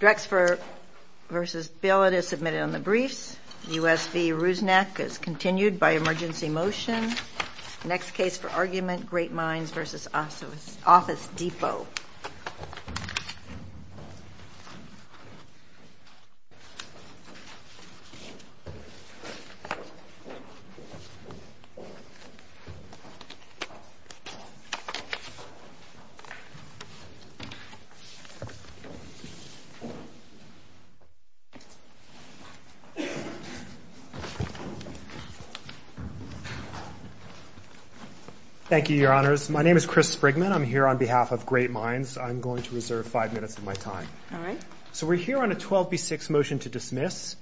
Drexfer v. Billett is submitted on the briefs. U.S. v. Rusnak is continued by emergency motion. Next case for argument, Great Minds v. Office Depot. Thank you, Your Honors. My name is Chris Sprigman. I'm here on behalf of Great Minds. I'm going to reserve five minutes of my time. All right. So we're here on a 12B6 motion to dismiss.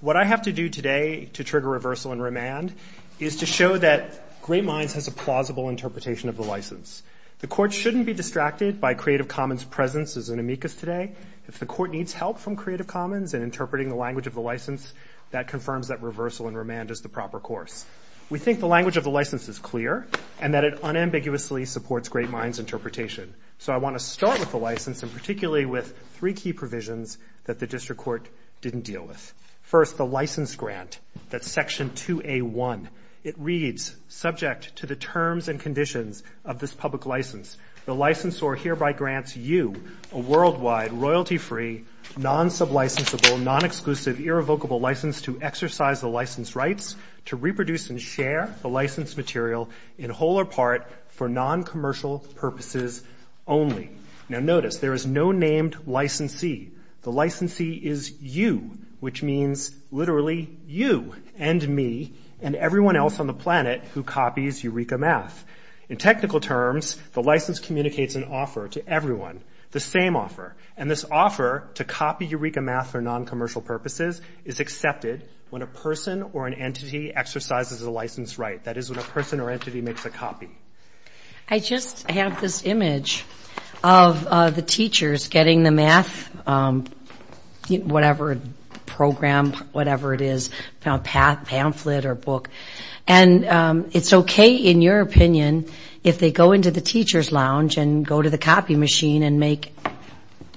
What I have to do today to trigger reversal and remand is to show that Great Minds has a plausible interpretation of the license. The Court shouldn't be distracted by Creative Commons' presence as an amicus today. If the Court needs help from Creative Commons in interpreting the language of the license, that confirms that reversal and remand is the proper course. We think the language of the license is clear and that it unambiguously supports Great Minds' interpretation. So I want to start with the license and particularly with three key provisions that the District Court didn't deal with. First, the license grant, that's Section 2A1. It reads, subject to the terms and conditions of this public license, the licensor hereby grants you a worldwide, royalty-free, non-sublicensable, non-exclusive, irrevocable license to exercise the license rights to reproduce and share the license material in whole or part for non-commercial purposes only. Now, notice there is no named licensee. The licensee is you, which means literally you and me and everyone else on the planet who copies Eureka Math. In technical terms, the license communicates an offer to everyone, the same offer, and this offer to copy Eureka Math for non-commercial purposes is accepted when a person or an entity exercises a license right. That is, when a person or entity makes a copy. I just have this image of the teachers getting the math, whatever program, whatever it is, pamphlet or book, and it's okay, in your opinion, if they go into the teacher's lounge and go to the copy machine and make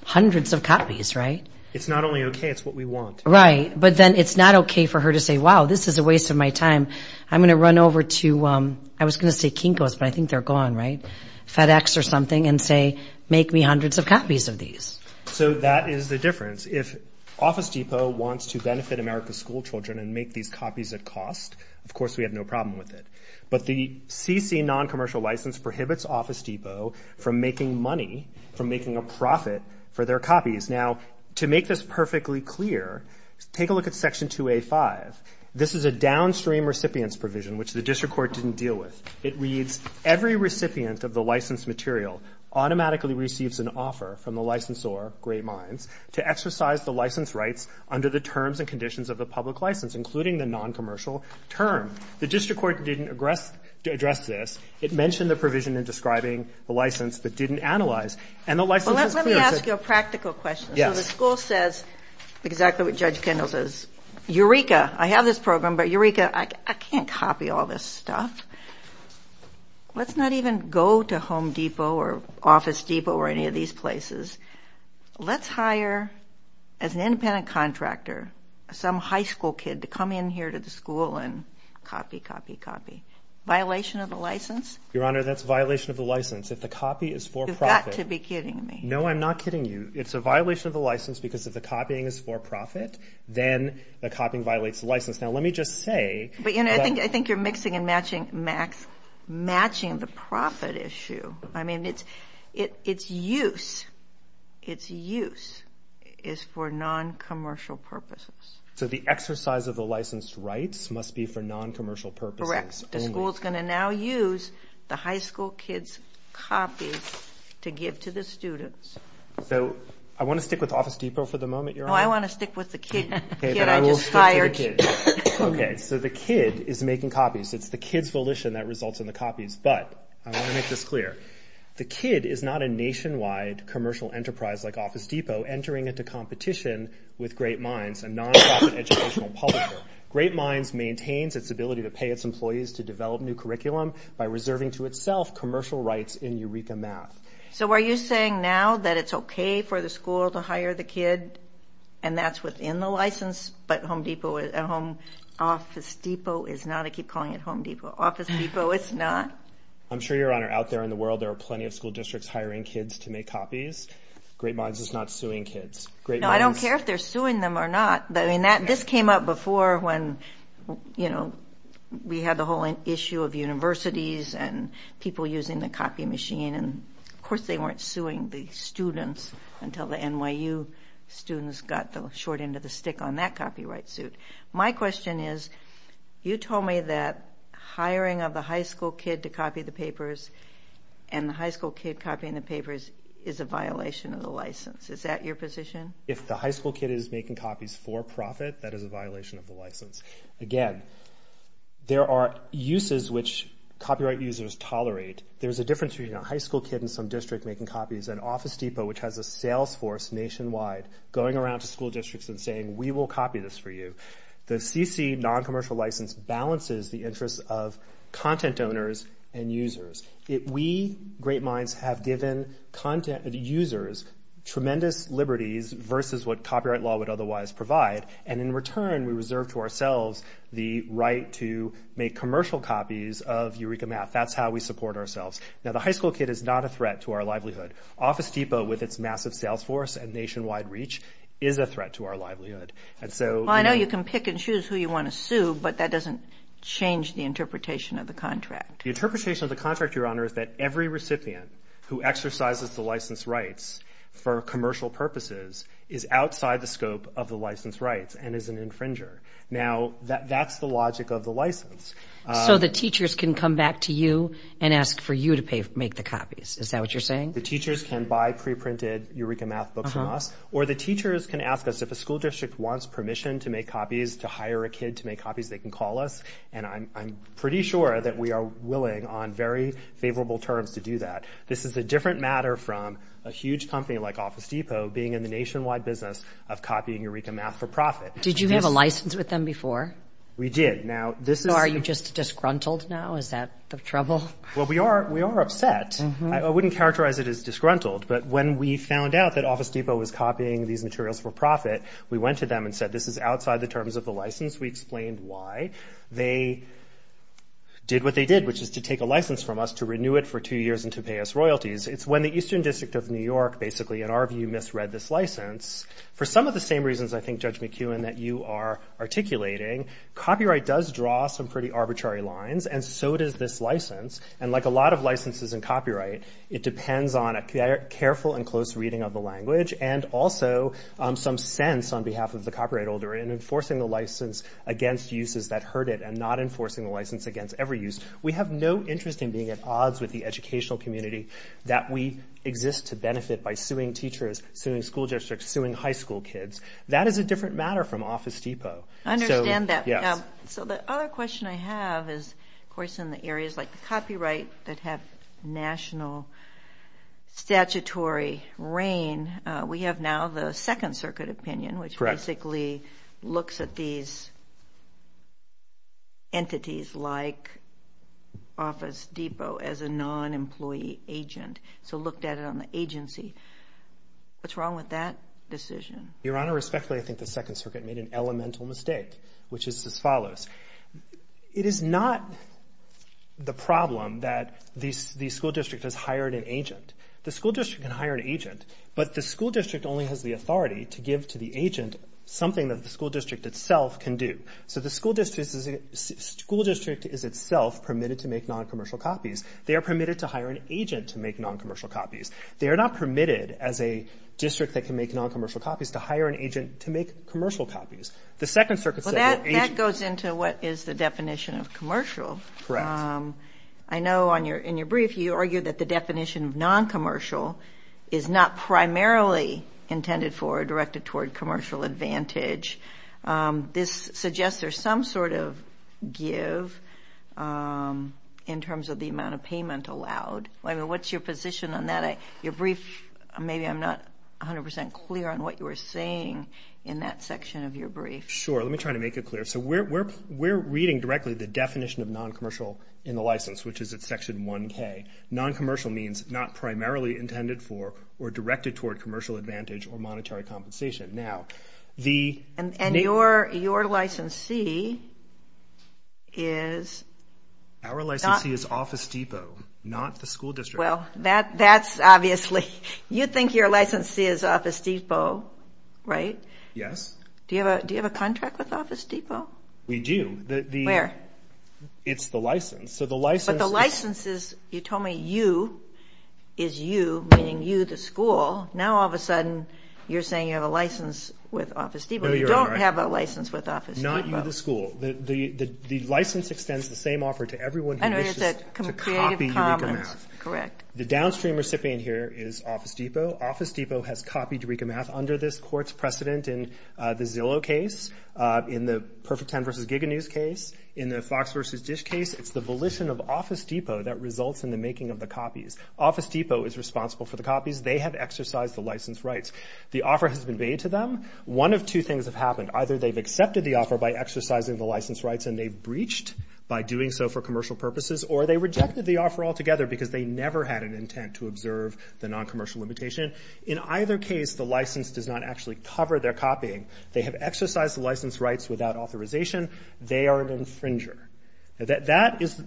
hundreds of copies, right? It's not only okay, it's what we want. Right, but then it's not okay for her to say, wow, this is a waste of my time. I'm going to run over to, I was going to say Kinko's, but I think they're gone, right? FedEx or something and say, make me hundreds of copies of these. So that is the difference. If Office Depot wants to benefit America's school children and make these copies at cost, of course we have no problem with it. But the CC non-commercial license prohibits Office Depot from making money, from making a profit for their copies. Now, to make this perfectly clear, take a look at Section 2A-5. This is a downstream recipient's provision, which the district court didn't deal with. It reads, Every recipient of the licensed material automatically receives an offer from the licensor to exercise the license rights under the terms and conditions of the public license, including the non-commercial term. The district court didn't address this. It mentioned the provision in describing the license, but didn't analyze. And the license is clear. Let me ask you a practical question. Yes. So the school says exactly what Judge Kendall says. Eureka, I have this program, but Eureka, I can't copy all this stuff. Let's not even go to Home Depot or Office Depot or any of these places. Let's hire, as an independent contractor, some high school kid to come in here to the school and copy, copy, copy. Violation of the license? Your Honor, that's a violation of the license. If the copy is for profit. You've got to be kidding me. No, I'm not kidding you. It's a violation of the license because if the copying is for profit, then the copying violates the license. Now, let me just say. But, Your Honor, I think you're mixing and matching the profit issue. I mean, its use is for non-commercial purposes. So the exercise of the licensed rights must be for non-commercial purposes only. Correct. The school is going to now use the high school kid's copies to give to the students. So I want to stick with Office Depot for the moment, Your Honor. No, I want to stick with the kid that I just hired. Okay, so the kid is making copies. It's the kid's volition that results in the copies. But I want to make this clear. The kid is not a nationwide commercial enterprise like Office Depot entering into competition with Great Minds, a non-profit educational publisher. Great Minds maintains its ability to pay its employees to develop new curriculum by reserving to itself commercial rights in Eureka Math. So are you saying now that it's okay for the school to hire the kid and that's within the license, but Home Depot and Home Office Depot is not? I keep calling it Home Depot. Office Depot is not? I'm sure, Your Honor, out there in the world there are plenty of school districts hiring kids to make copies. Great Minds is not suing kids. No, I don't care if they're suing them or not. This came up before when, you know, we had the whole issue of universities and people using the copy machine, and of course they weren't suing the students until the NYU students got the short end of the stick on that copyright suit. My question is, you told me that hiring of the high school kid to copy the papers and the high school kid copying the papers is a violation of the license. Is that your position? If the high school kid is making copies for profit, that is a violation of the license. Again, there are uses which copyright users tolerate. There's a difference between a high school kid in some district making copies and Office Depot, which has a sales force nationwide going around to school districts and saying, we will copy this for you. The CC noncommercial license balances the interests of content owners and users. We, Great Minds, have given users tremendous liberties versus what copyright law would otherwise provide, and in return we reserve to ourselves the right to make commercial copies of Eureka Math. That's how we support ourselves. Now, the high school kid is not a threat to our livelihood. Office Depot, with its massive sales force and nationwide reach, is a threat to our livelihood. Well, I know you can pick and choose who you want to sue, but that doesn't change the interpretation of the contract. The interpretation of the contract, Your Honor, is that every recipient who exercises the license rights for commercial purposes is outside the scope of the license rights and is an infringer. Now, that's the logic of the license. So the teachers can come back to you and ask for you to make the copies. Is that what you're saying? The teachers can buy preprinted Eureka Math books from us, or the teachers can ask us if a school district wants permission to make copies, to hire a kid to make copies, they can call us, and I'm pretty sure that we are willing on very favorable terms to do that. This is a different matter from a huge company like Office Depot being in the nationwide business of copying Eureka Math for profit. Did you have a license with them before? We did. Are you just disgruntled now? Is that the trouble? Well, we are upset. I wouldn't characterize it as disgruntled, but when we found out that Office Depot was copying these materials for profit, we went to them and said this is outside the terms of the license. We explained why. They did what they did, which is to take a license from us to renew it for two years and to pay us royalties. It's when the Eastern District of New York basically, in our view, misread this license. For some of the same reasons, I think, Judge McEwen, that you are articulating, copyright does draw some pretty arbitrary lines, and so does this license. And like a lot of licenses in copyright, it depends on a careful and close reading of the language and also some sense on behalf of the copyright holder in enforcing the license against uses that hurt it and not enforcing the license against every use. We have no interest in being at odds with the educational community that we exist to benefit by suing teachers, suing school districts, suing high school kids. That is a different matter from Office Depot. I understand that. Yes. So the other question I have is, of course, in the areas like the copyright that have national statutory reign, we have now the Second Circuit opinion, which basically looks at these entities like Office Depot as a non-employee agent, so looked at it on the agency. What's wrong with that decision? Your Honor, respectfully, I think the Second Circuit made an elemental mistake, which is as follows. It is not the problem that the school district has hired an agent. The school district can hire an agent, but the school district only has the authority to give to the agent something that the school district itself can do. So the school district is itself permitted to make non-commercial copies. They are permitted to hire an agent to make non-commercial copies. They are not permitted as a district that can makes non-commercial copies to hire an agent to make commercial copies. Well, that goes into what is the definition of commercial. Correct. I know in your brief you argue that the definition of non-commercial is not primarily intended for or directed toward commercial advantage. This suggests there's some sort of give in terms of the amount of payment allowed. What's your position on that? Your brief, maybe I'm not 100% clear on what you were saying in that section of your brief. Sure. Let me try to make it clear. So we're reading directly the definition of non-commercial in the license, which is at section 1K. Non-commercial means not primarily intended for or directed toward commercial advantage or monetary compensation. And your licensee is? Our licensee is Office Depot, not the school district. Well, that's obviously. You think your licensee is Office Depot, right? Yes. Do you have a contract with Office Depot? We do. Where? It's the license. But the license is, you told me, you is you, meaning you the school. Now all of a sudden you're saying you have a license with Office Depot. No, you're right. You don't have a license with Office Depot. Not you the school. The license extends the same offer to everyone who wishes to copy unique amounts. Correct. The downstream recipient here is Office Depot. Office Depot has copied Rika Math under this court's precedent in the Zillow case, in the Perfect 10 v. Giga News case, in the Fox v. Dish case. It's the volition of Office Depot that results in the making of the copies. Office Depot is responsible for the copies. They have exercised the license rights. The offer has been made to them. One of two things have happened. Either they've accepted the offer by exercising the license rights and they've breached by doing so for commercial purposes, or they rejected the offer altogether because they never had an intent to observe the noncommercial limitation. In either case, the license does not actually cover their copying. They have exercised the license rights without authorization. They are an infringer. That is,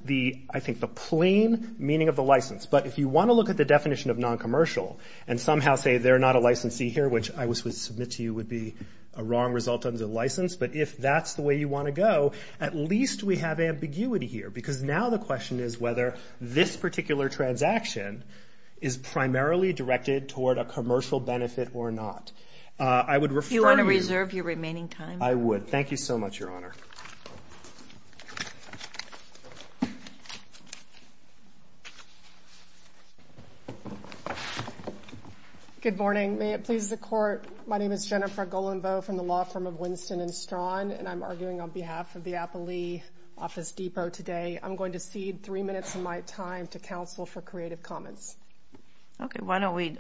I think, the plain meaning of the license. But if you want to look at the definition of noncommercial and somehow say they're not a licensee here, which I would submit to you would be a wrong result of the license, but if that's the way you want to go, at least we have ambiguity here because now the question is whether this particular transaction is primarily directed toward a commercial benefit or not. Do you want to reserve your remaining time? I would. Thank you so much, Your Honor. Good morning. May it please the Court, my name is Jennifer Golenbeau from the law firm of Winston & Strawn, and I'm arguing on behalf of the Applee Office Depot today. I'm going to cede three minutes of my time to counsel for creative comments. Okay, why don't we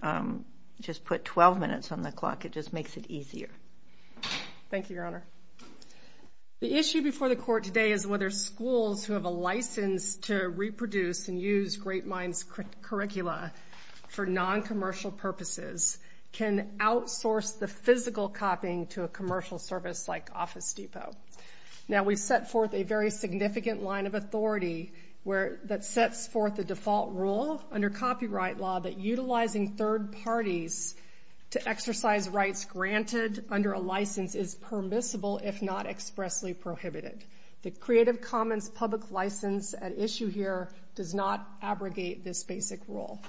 just put 12 minutes on the clock? It just makes it easier. Thank you, Your Honor. The issue before the Court today is whether schools who have a license to reproduce and use Great Minds curricula for noncommercial purposes can outsource the physical copying to a commercial service like Office Depot. Now, we've set forth a very significant line of authority that sets forth the default rule under copyright law that utilizing third parties to exercise rights granted under a license is permissible if not expressly prohibited. The creative comments public license at issue here does not abrogate this basic rule.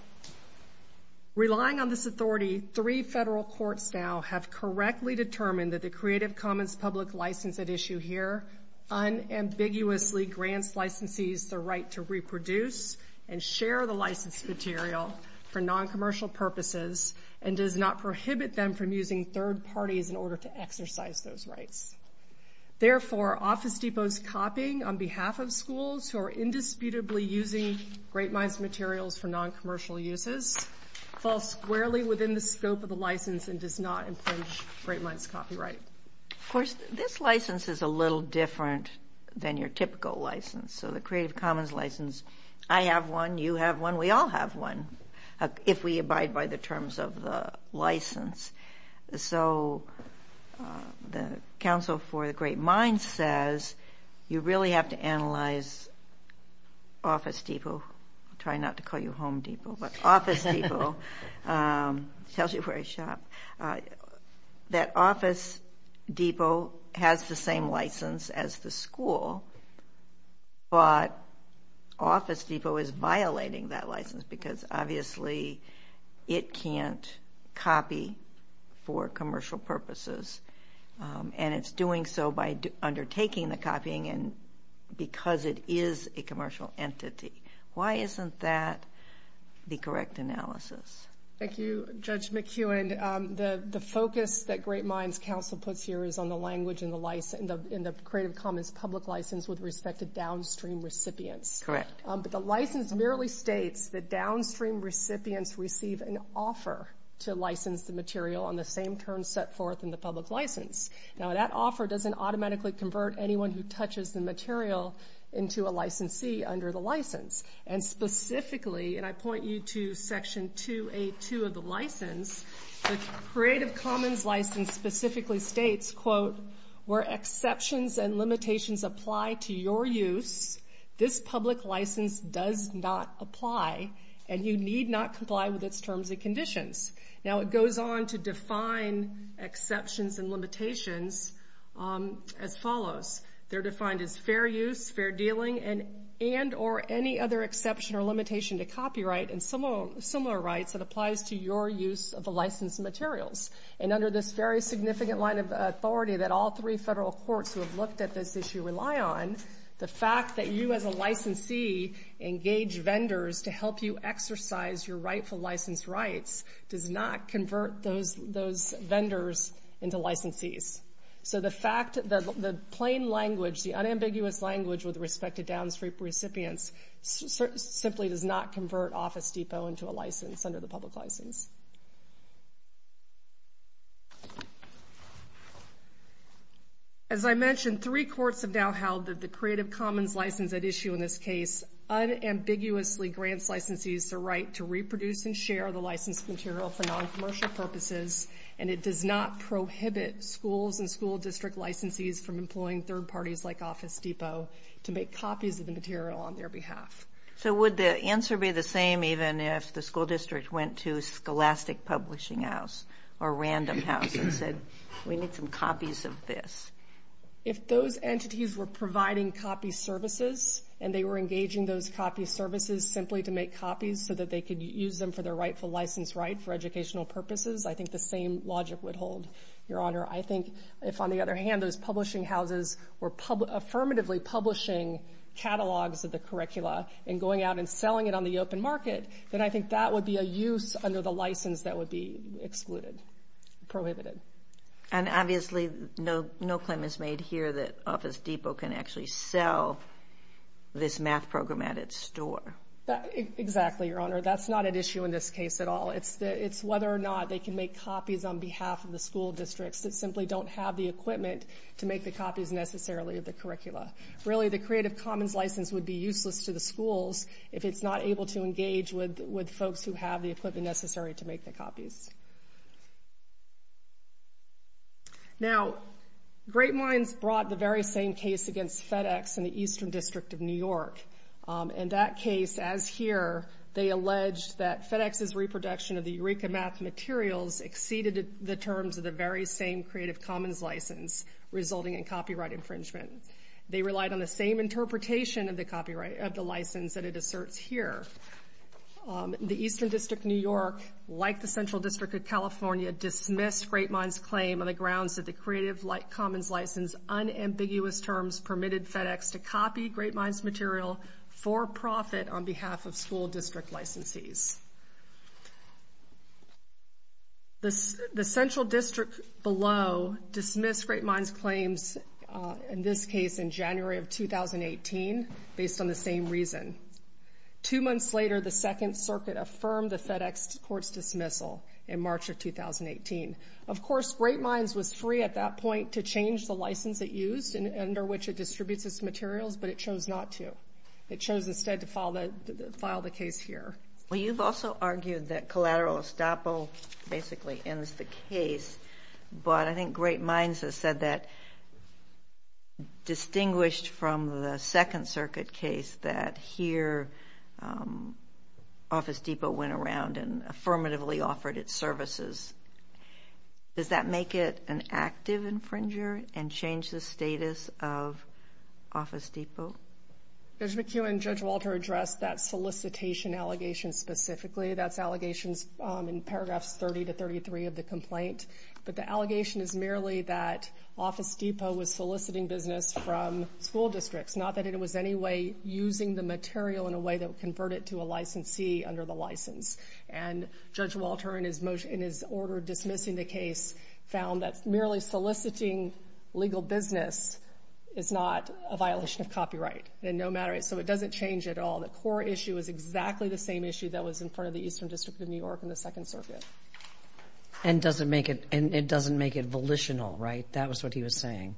Relying on this authority, three federal courts now have correctly determined that the creative comments public license at issue here unambiguously grants licensees the right to reproduce and share the licensed material for noncommercial purposes and does not prohibit them from using third parties in order to exercise those rights. Therefore, Office Depot's copying on behalf of schools who are indisputably using Great Minds materials for noncommercial uses falls squarely within the scope of the license and does not infringe Great Minds copyright. Of course, this license is a little different than your typical license. So the creative comments license, I have one, you have one, we all have one if we abide by the terms of the license. So the counsel for the Great Minds says you really have to analyze Office Depot. I'll try not to call you Home Depot, but Office Depot. It tells you where I shop. That Office Depot has the same license as the school, but Office Depot is violating that license because obviously it can't copy for commercial purposes, and it's doing so by undertaking the copying because it is a commercial entity. Why isn't that the correct analysis? Thank you, Judge McEwen. The focus that Great Minds counsel puts here is on the language in the creative comments public license with respect to downstream recipients. Correct. But the license merely states that downstream recipients receive an offer to license the material on the same terms set forth in the public license. Now, that offer doesn't automatically convert anyone who touches the material into a licensee under the license, and specifically, and I point you to Section 2A.2 of the license, the creative comments license specifically states, where exceptions and limitations apply to your use, this public license does not apply, and you need not comply with its terms and conditions. Now, it goes on to define exceptions and limitations as follows. They're defined as fair use, fair dealing, and or any other exception or limitation to copyright and similar rights that applies to your use of the licensed materials. And under this very significant line of authority that all three federal courts who have looked at this issue rely on, the fact that you as a licensee engage vendors to help you exercise your rightful license rights does not convert those vendors into licensees. So the fact that the plain language, the unambiguous language with respect to downstream recipients, simply does not convert Office Depot into a license under the public license. As I mentioned, three courts have now held that the creative commons license at issue in this case unambiguously grants licensees the right to reproduce and share the licensed material for noncommercial purposes, and it does not prohibit schools and school district licensees from employing third parties like Office Depot to make copies of the material on their behalf. So would the answer be the same even if the school district went to Scholastic Publishing House or Random House and said, we need some copies of this? If those entities were providing copy services and they were engaging those copy services simply to make copies so that they could use them for their rightful license right for educational purposes, I think the same logic would hold, Your Honor. I think if, on the other hand, those publishing houses were affirmatively publishing catalogs of the curricula and going out and selling it on the open market, then I think that would be a use under the license that would be excluded, prohibited. And obviously no claim is made here that Office Depot can actually sell this math program at its store. Exactly, Your Honor. That's not at issue in this case at all. It's whether or not they can make copies on behalf of the school districts that simply don't have the equipment to make the copies necessarily of the curricula. Really, the Creative Commons license would be useless to the schools if it's not able to engage with folks who have the equipment necessary to make the copies. Now, Great Minds brought the very same case against FedEx in the Eastern District of New York. In that case, as here, they alleged that FedEx's reproduction of the Eureka Math materials exceeded the terms of the very same Creative Commons license, resulting in copyright infringement. They relied on the same interpretation of the license that it asserts here. The Eastern District of New York, like the Central District of California, dismissed Great Minds' claim on the grounds that the Creative Commons license's unambiguous terms permitted FedEx to copy Great Minds' material for profit on behalf of school district licensees. The Central District below dismissed Great Minds' claims in this case in January of 2018 based on the same reason. Two months later, the Second Circuit affirmed the FedEx court's dismissal in March of 2018. Of course, Great Minds was free at that point to change the license it used under which it distributes its materials, but it chose not to. It chose instead to file the case here. Well, you've also argued that collateral estoppel basically ends the case, but I think Great Minds has said that, distinguished from the Second Circuit case that here, Office Depot went around and affirmatively offered its services. Does that make it an active infringer and change the status of Office Depot? Judge McEwen, Judge Walter addressed that solicitation allegation specifically. That's allegations in paragraphs 30 to 33 of the complaint, but the allegation is merely that Office Depot was soliciting business from school districts, not that it was any way using the material in a way that would convert it to a licensee under the license. And Judge Walter, in his order dismissing the case, found that merely soliciting legal business is not a violation of copyright. So it doesn't change at all. The core issue is exactly the same issue that was in front of the Eastern District of New York in the Second Circuit. And it doesn't make it volitional, right? That was what he was saying.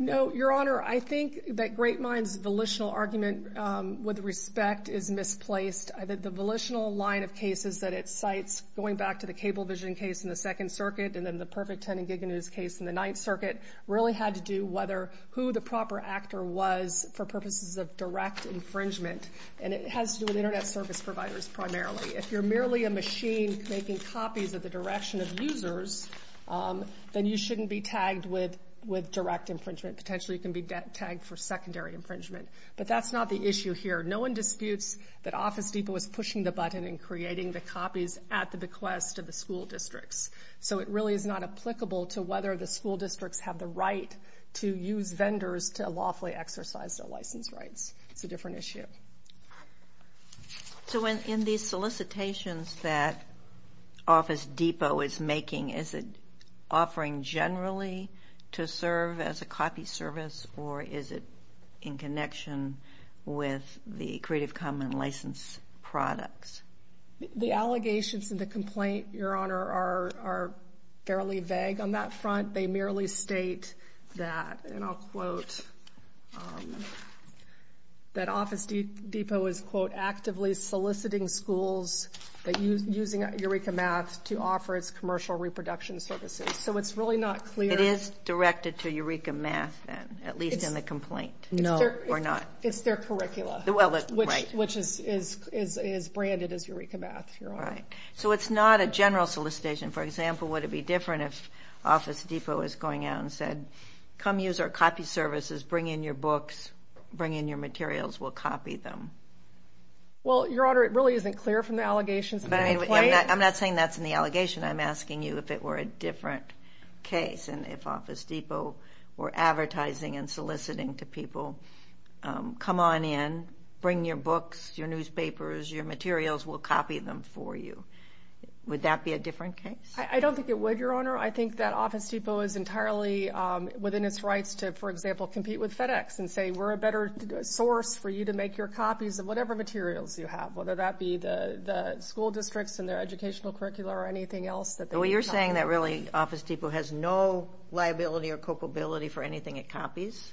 No, Your Honor, I think that Great Minds' volitional argument with respect is misplaced. The volitional line of cases that it cites, going back to the Cablevision case in the Second Circuit and then the Perfect 10 and Giga News case in the Ninth Circuit, really had to do whether who the proper actor was for purposes of direct infringement. And it has to do with Internet service providers primarily. If you're merely a machine making copies of the direction of users, then you shouldn't be tagged with direct infringement. Potentially, you can be tagged for secondary infringement. But that's not the issue here. No one disputes that Office Depot is pushing the button in creating the copies at the bequest of the school districts. So it really is not applicable to whether the school districts have the right to use vendors to lawfully exercise their license rights. It's a different issue. So in these solicitations that Office Depot is making, is it offering generally to serve as a copy service or is it in connection with the Creative Commons license products? The allegations in the complaint, Your Honor, are fairly vague on that front. They merely state that, and I'll quote, that Office Depot is, quote, actively soliciting schools using Eureka Math to offer its commercial reproduction services. So it's really not clear. It is directed to Eureka Math then, at least in the complaint? No. Or not? It's their curricula, which is branded as Eureka Math, Your Honor. Right. So it's not a general solicitation. For example, would it be different if Office Depot was going out and said, come use our copy services, bring in your books, bring in your materials, we'll copy them? Well, Your Honor, it really isn't clear from the allegations in the complaint. I'm not saying that's in the allegation. I'm asking you if it were a different case and if Office Depot were advertising and soliciting to people, come on in, bring your books, your newspapers, your materials, we'll copy them for you. Would that be a different case? I don't think it would, Your Honor. I think that Office Depot is entirely within its rights to, for example, compete with FedEx and say, we're a better source for you to make your copies of whatever materials you have, whether that be the school districts and their educational curricula or anything else that they would copy. So you're saying that really Office Depot has no liability or culpability for anything it copies?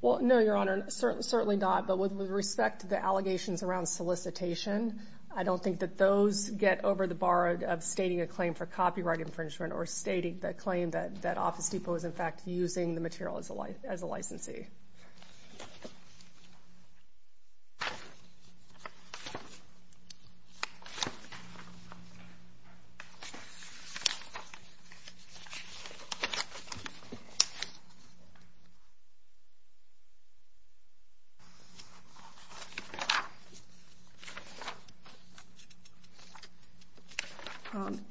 Well, no, Your Honor, certainly not. But with respect to the allegations around solicitation, I don't think that those get over the bar of stating a claim for copyright infringement or stating the claim that Office Depot is, in fact, using the material as a licensee.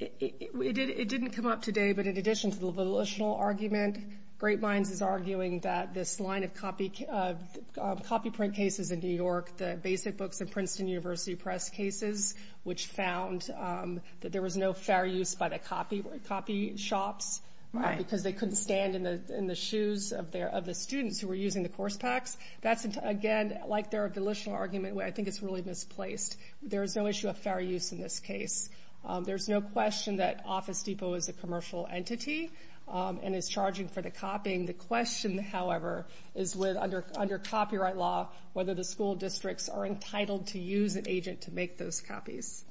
It didn't come up today, but in addition to the volitional argument, Great Minds is arguing that this line of copy print cases in New York, the basic books of Princeton University press cases, which found that there was no fair use by the copy shops because they couldn't stand in the shoes of the students who were using the course packs. That's, again, like their volitional argument, where I think it's really misplaced. There is no issue of fair use in this case. There's no question that Office Depot is a commercial entity and is charging for the copying. The question, however, is under copyright law, whether the school districts are entitled to use an agent to make those copies.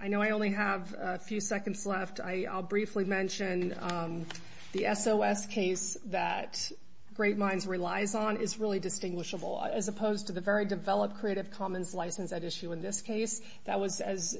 I know I only have a few seconds left. I'll briefly mention the SOS case that Great Minds relies on is really distinguishable. As opposed to the very developed Creative Commons license at issue in this case, that was, as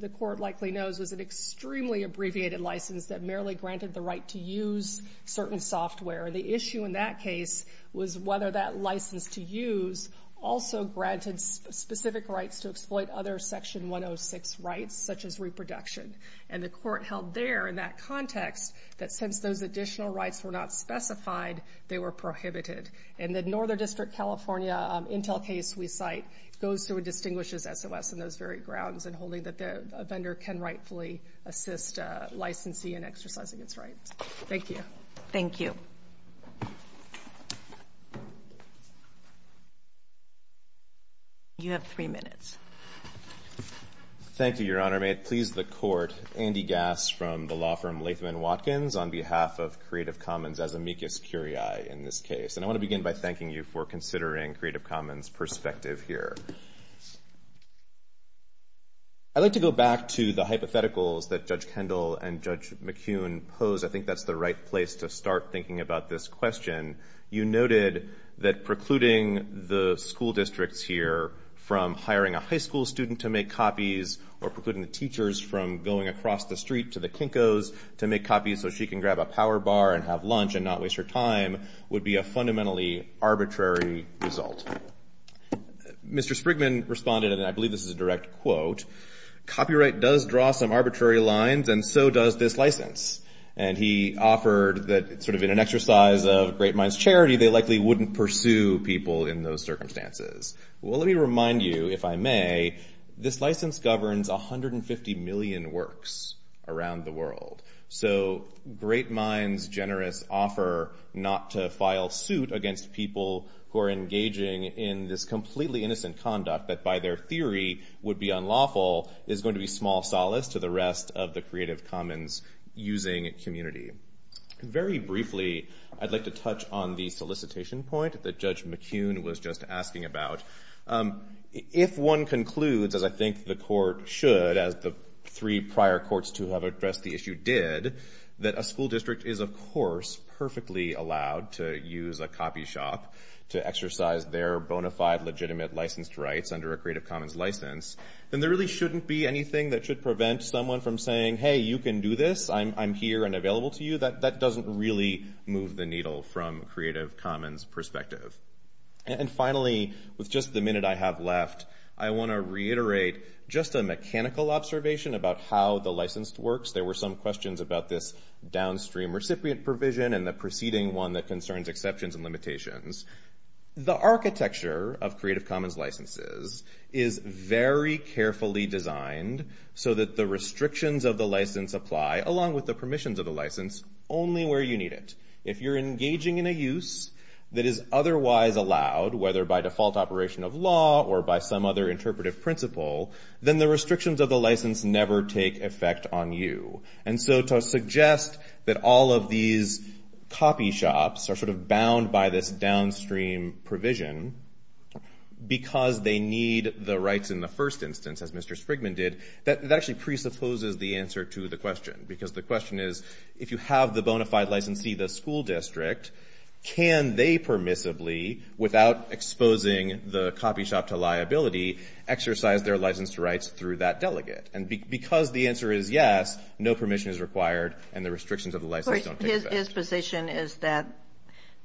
the Court likely knows, was an extremely abbreviated license that merely granted the right to use certain software. And the issue in that case was whether that license to use also granted specific rights to exploit other Section 106 rights, such as reproduction. And the Court held there in that context that since those additional rights were not specified, they were prohibited. And the Northern District, California, Intel case we cite, goes through and distinguishes SOS on those very grounds and holding that a vendor can rightfully assist a licensee in exercising its rights. Thank you. Thank you. You have three minutes. Thank you, Your Honor. May it please the Court, Andy Gass from the law firm Latham & Watkins on behalf of Creative Commons as amicus curiae in this case. And I want to begin by thanking you for considering Creative Commons' perspective here. I'd like to go back to the hypotheticals that Judge Kendall and Judge McCune pose. I think that's the right place to start thinking about this question. You noted that precluding the school districts here from hiring a high school student to make copies or precluding the teachers from going across the street to the Kinkos to make copies so she can grab a power bar and have lunch and not waste her time would be a fundamentally arbitrary result. Mr. Sprigman responded, and I believe this is a direct quote, copyright does draw some arbitrary lines and so does this license. And he offered that sort of in an exercise of great minds' charity, they likely wouldn't pursue people in those circumstances. Well, let me remind you, if I may, this license governs 150 million works around the world. So great minds' generous offer not to file suit against people who are engaging in this completely innocent conduct that by their theory would be unlawful is going to be small solace to the rest of the creative commons using community. Very briefly, I'd like to touch on the solicitation point that Judge McCune was just asking about. If one concludes, as I think the court should, as the three prior courts to have addressed the issue did, that a school district is, of course, perfectly allowed to use a copy shop to exercise their bona fide legitimate licensed rights under a creative commons license, then there really shouldn't be anything that should prevent someone from saying, hey, you can do this. I'm here and available to you. That doesn't really move the needle from creative commons perspective. And finally, with just the minute I have left, I want to reiterate just a mechanical observation about how the licensed works. There were some questions about this downstream recipient provision and the preceding one that concerns exceptions and limitations. The architecture of creative commons licenses is very carefully designed so that the restrictions of the license apply, along with the permissions of the license, only where you need it. If you're engaging in a use that is otherwise allowed, whether by default operation of law or by some other interpretive principle, then the restrictions of the license never take effect on you. And so to suggest that all of these copy shops are sort of bound by this downstream provision because they need the rights in the first instance, as Mr. Sprigman did, that actually presupposes the answer to the question. Because the question is, if you have the bona fide licensee, the school district, can they permissibly, without exposing the copy shop to liability, exercise their license to rights through that delegate? And because the answer is yes, no permission is required, and the restrictions of the license don't take effect. So his position is that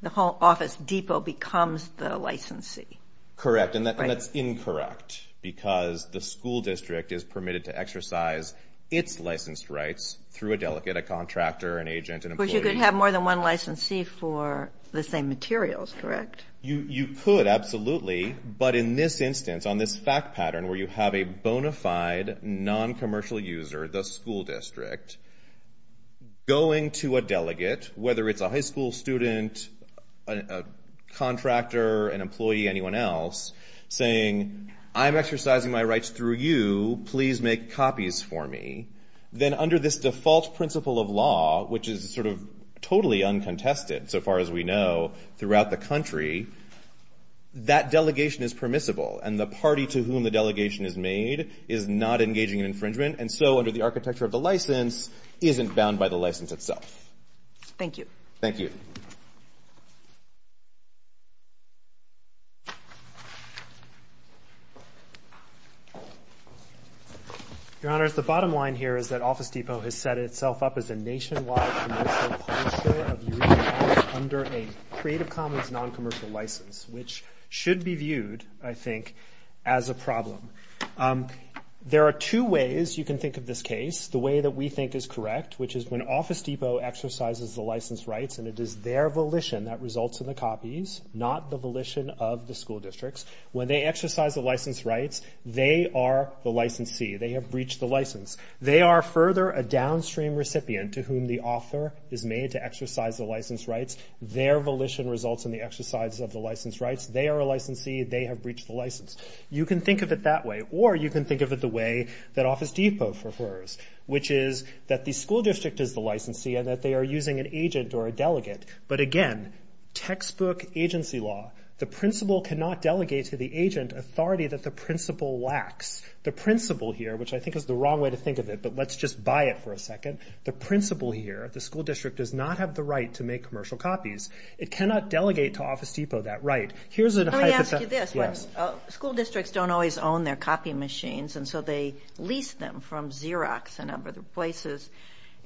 the whole office depot becomes the licensee. Correct. And that's incorrect because the school district is permitted to exercise its licensed rights through a delegate, a contractor, an agent, an employee. But you could have more than one licensee for the same materials, correct? You could, absolutely. But in this instance, on this fact pattern, where you have a bona fide noncommercial user, the school district, going to a delegate, whether it's a high school student, a contractor, an employee, anyone else, saying, I'm exercising my rights through you, please make copies for me. Then under this default principle of law, which is sort of totally uncontested so far as we know, throughout the country, that delegation is permissible. And the party to whom the delegation is made is not engaging in infringement. And so under the architecture of the license, isn't bound by the license itself. Thank you. Thank you. Your Honors, the bottom line here is that Office Depot has set itself up as a nationwide commercial publisher under a Creative Commons noncommercial license, which should be viewed, I think, as a problem. There are two ways you can think of this case. The way that we think is correct, which is when Office Depot exercises the license rights, and it is their volition that results in the copies, not the volition of the school districts. When they exercise the license rights, they are the licensee. They have breached the license. They are further a downstream recipient to whom the author is made to exercise the license rights. Their volition results in the exercise of the license rights. They are a licensee. They have breached the license. You can think of it that way, or you can think of it the way that Office Depot prefers, which is that the school district is the licensee, and that they are using an agent or a delegate. But again, textbook agency law. The principal cannot delegate to the agent authority that the principal lacks. The principal here, which I think is the wrong way to think of it, but let's just buy it for a second. The principal here, the school district does not have the right to make commercial copies. It cannot delegate to Office Depot that right. Here's a hypothetical. Let me ask you this. School districts don't always own their copy machines, and so they lease them from Xerox and other places,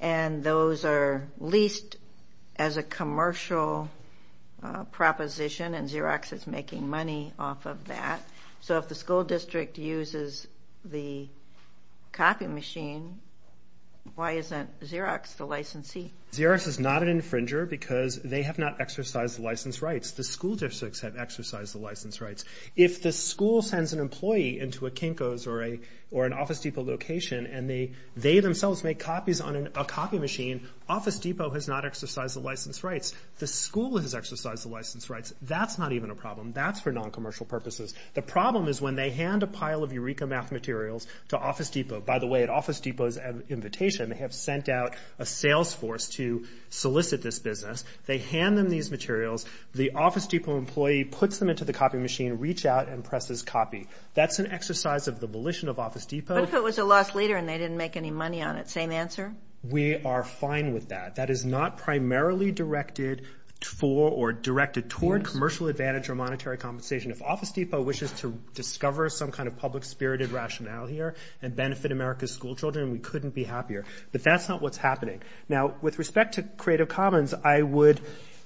and those are leased as a commercial proposition, and Xerox is making money off of that. So if the school district uses the copy machine, why isn't Xerox the licensee? Xerox is not an infringer because they have not exercised the license rights. The school districts have exercised the license rights. If the school sends an employee into a Kinko's or an Office Depot location, and they themselves make copies on a copy machine, Office Depot has not exercised the license rights. The school has exercised the license rights. That's not even a problem. That's for noncommercial purposes. The problem is when they hand a pile of Eureka math materials to Office Depot. By the way, at Office Depot's invitation, they have sent out a sales force to solicit this business. They hand them these materials. The Office Depot employee puts them into the copy machine, reach out, and presses copy. That's an exercise of the volition of Office Depot. But if it was a lost leader and they didn't make any money on it, same answer? We are fine with that. That is not primarily directed for or directed toward commercial advantage or monetary compensation. If Office Depot wishes to discover some kind of public-spirited rationale here and benefit America's school children, we couldn't be happier. But that's not what's happening. Now, with respect to Creative Commons, I would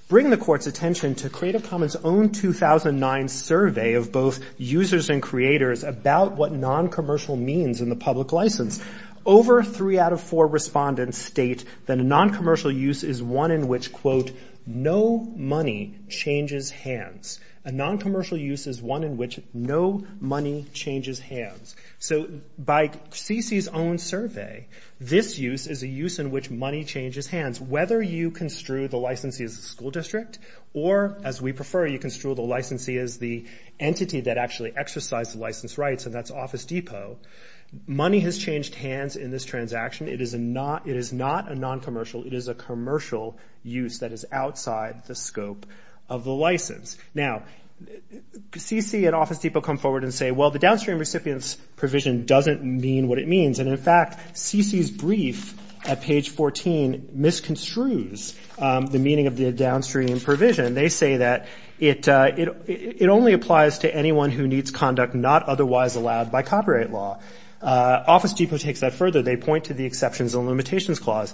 bring the Court's attention to Creative Commons' own 2009 survey of both users and creators about what noncommercial means in the public license. Over three out of four respondents state that a noncommercial use is one in which, quote, no money changes hands. A noncommercial use is one in which no money changes hands. So by CC's own survey, this use is a use in which money changes hands. Whether you construe the licensee as a school district or, as we prefer, you construe the licensee as the entity that actually exercised the license rights, and that's Office Depot, money has changed hands in this transaction. It is not a noncommercial. It is a commercial use that is outside the scope of the license. Now, CC and Office Depot come forward and say, well, the downstream recipient's provision doesn't mean what it means. And, in fact, CC's brief at page 14 misconstrues the meaning of the downstream provision. They say that it only applies to anyone who needs conduct not otherwise allowed by copyright law. Office Depot takes that further. They point to the exceptions and limitations clause.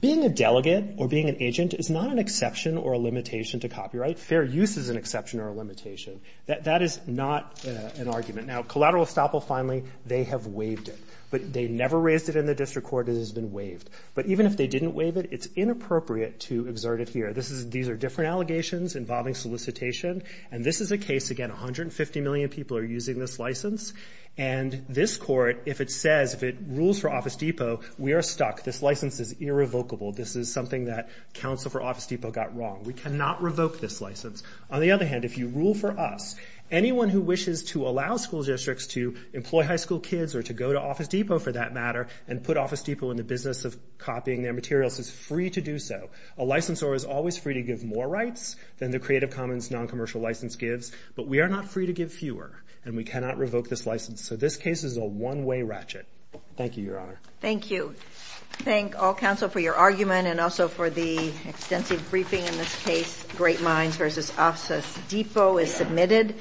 Being a delegate or being an agent is not an exception or a limitation to copyright. Fair use is an exception or a limitation. That is not an argument. Now, collateral estoppel, finally, they have waived it. But they never raised it in the district court. It has been waived. But even if they didn't waive it, it's inappropriate to exert it here. These are different allegations involving solicitation. And this is a case, again, 150 million people are using this license. And this court, if it says, if it rules for Office Depot, we are stuck. This license is irrevocable. This is something that counsel for Office Depot got wrong. We cannot revoke this license. On the other hand, if you rule for us, anyone who wishes to allow school districts to employ high school kids or to go to Office Depot, for that matter, and put Office Depot in the business of copying their materials is free to do so. A licensor is always free to give more rights than the Creative Commons noncommercial license gives. But we are not free to give fewer, and we cannot revoke this license. So this case is a one-way ratchet. Thank you, Your Honor. Thank you. Thank all counsel for your argument and also for the extensive briefing in this case. Great Minds v. Office Depot is submitted.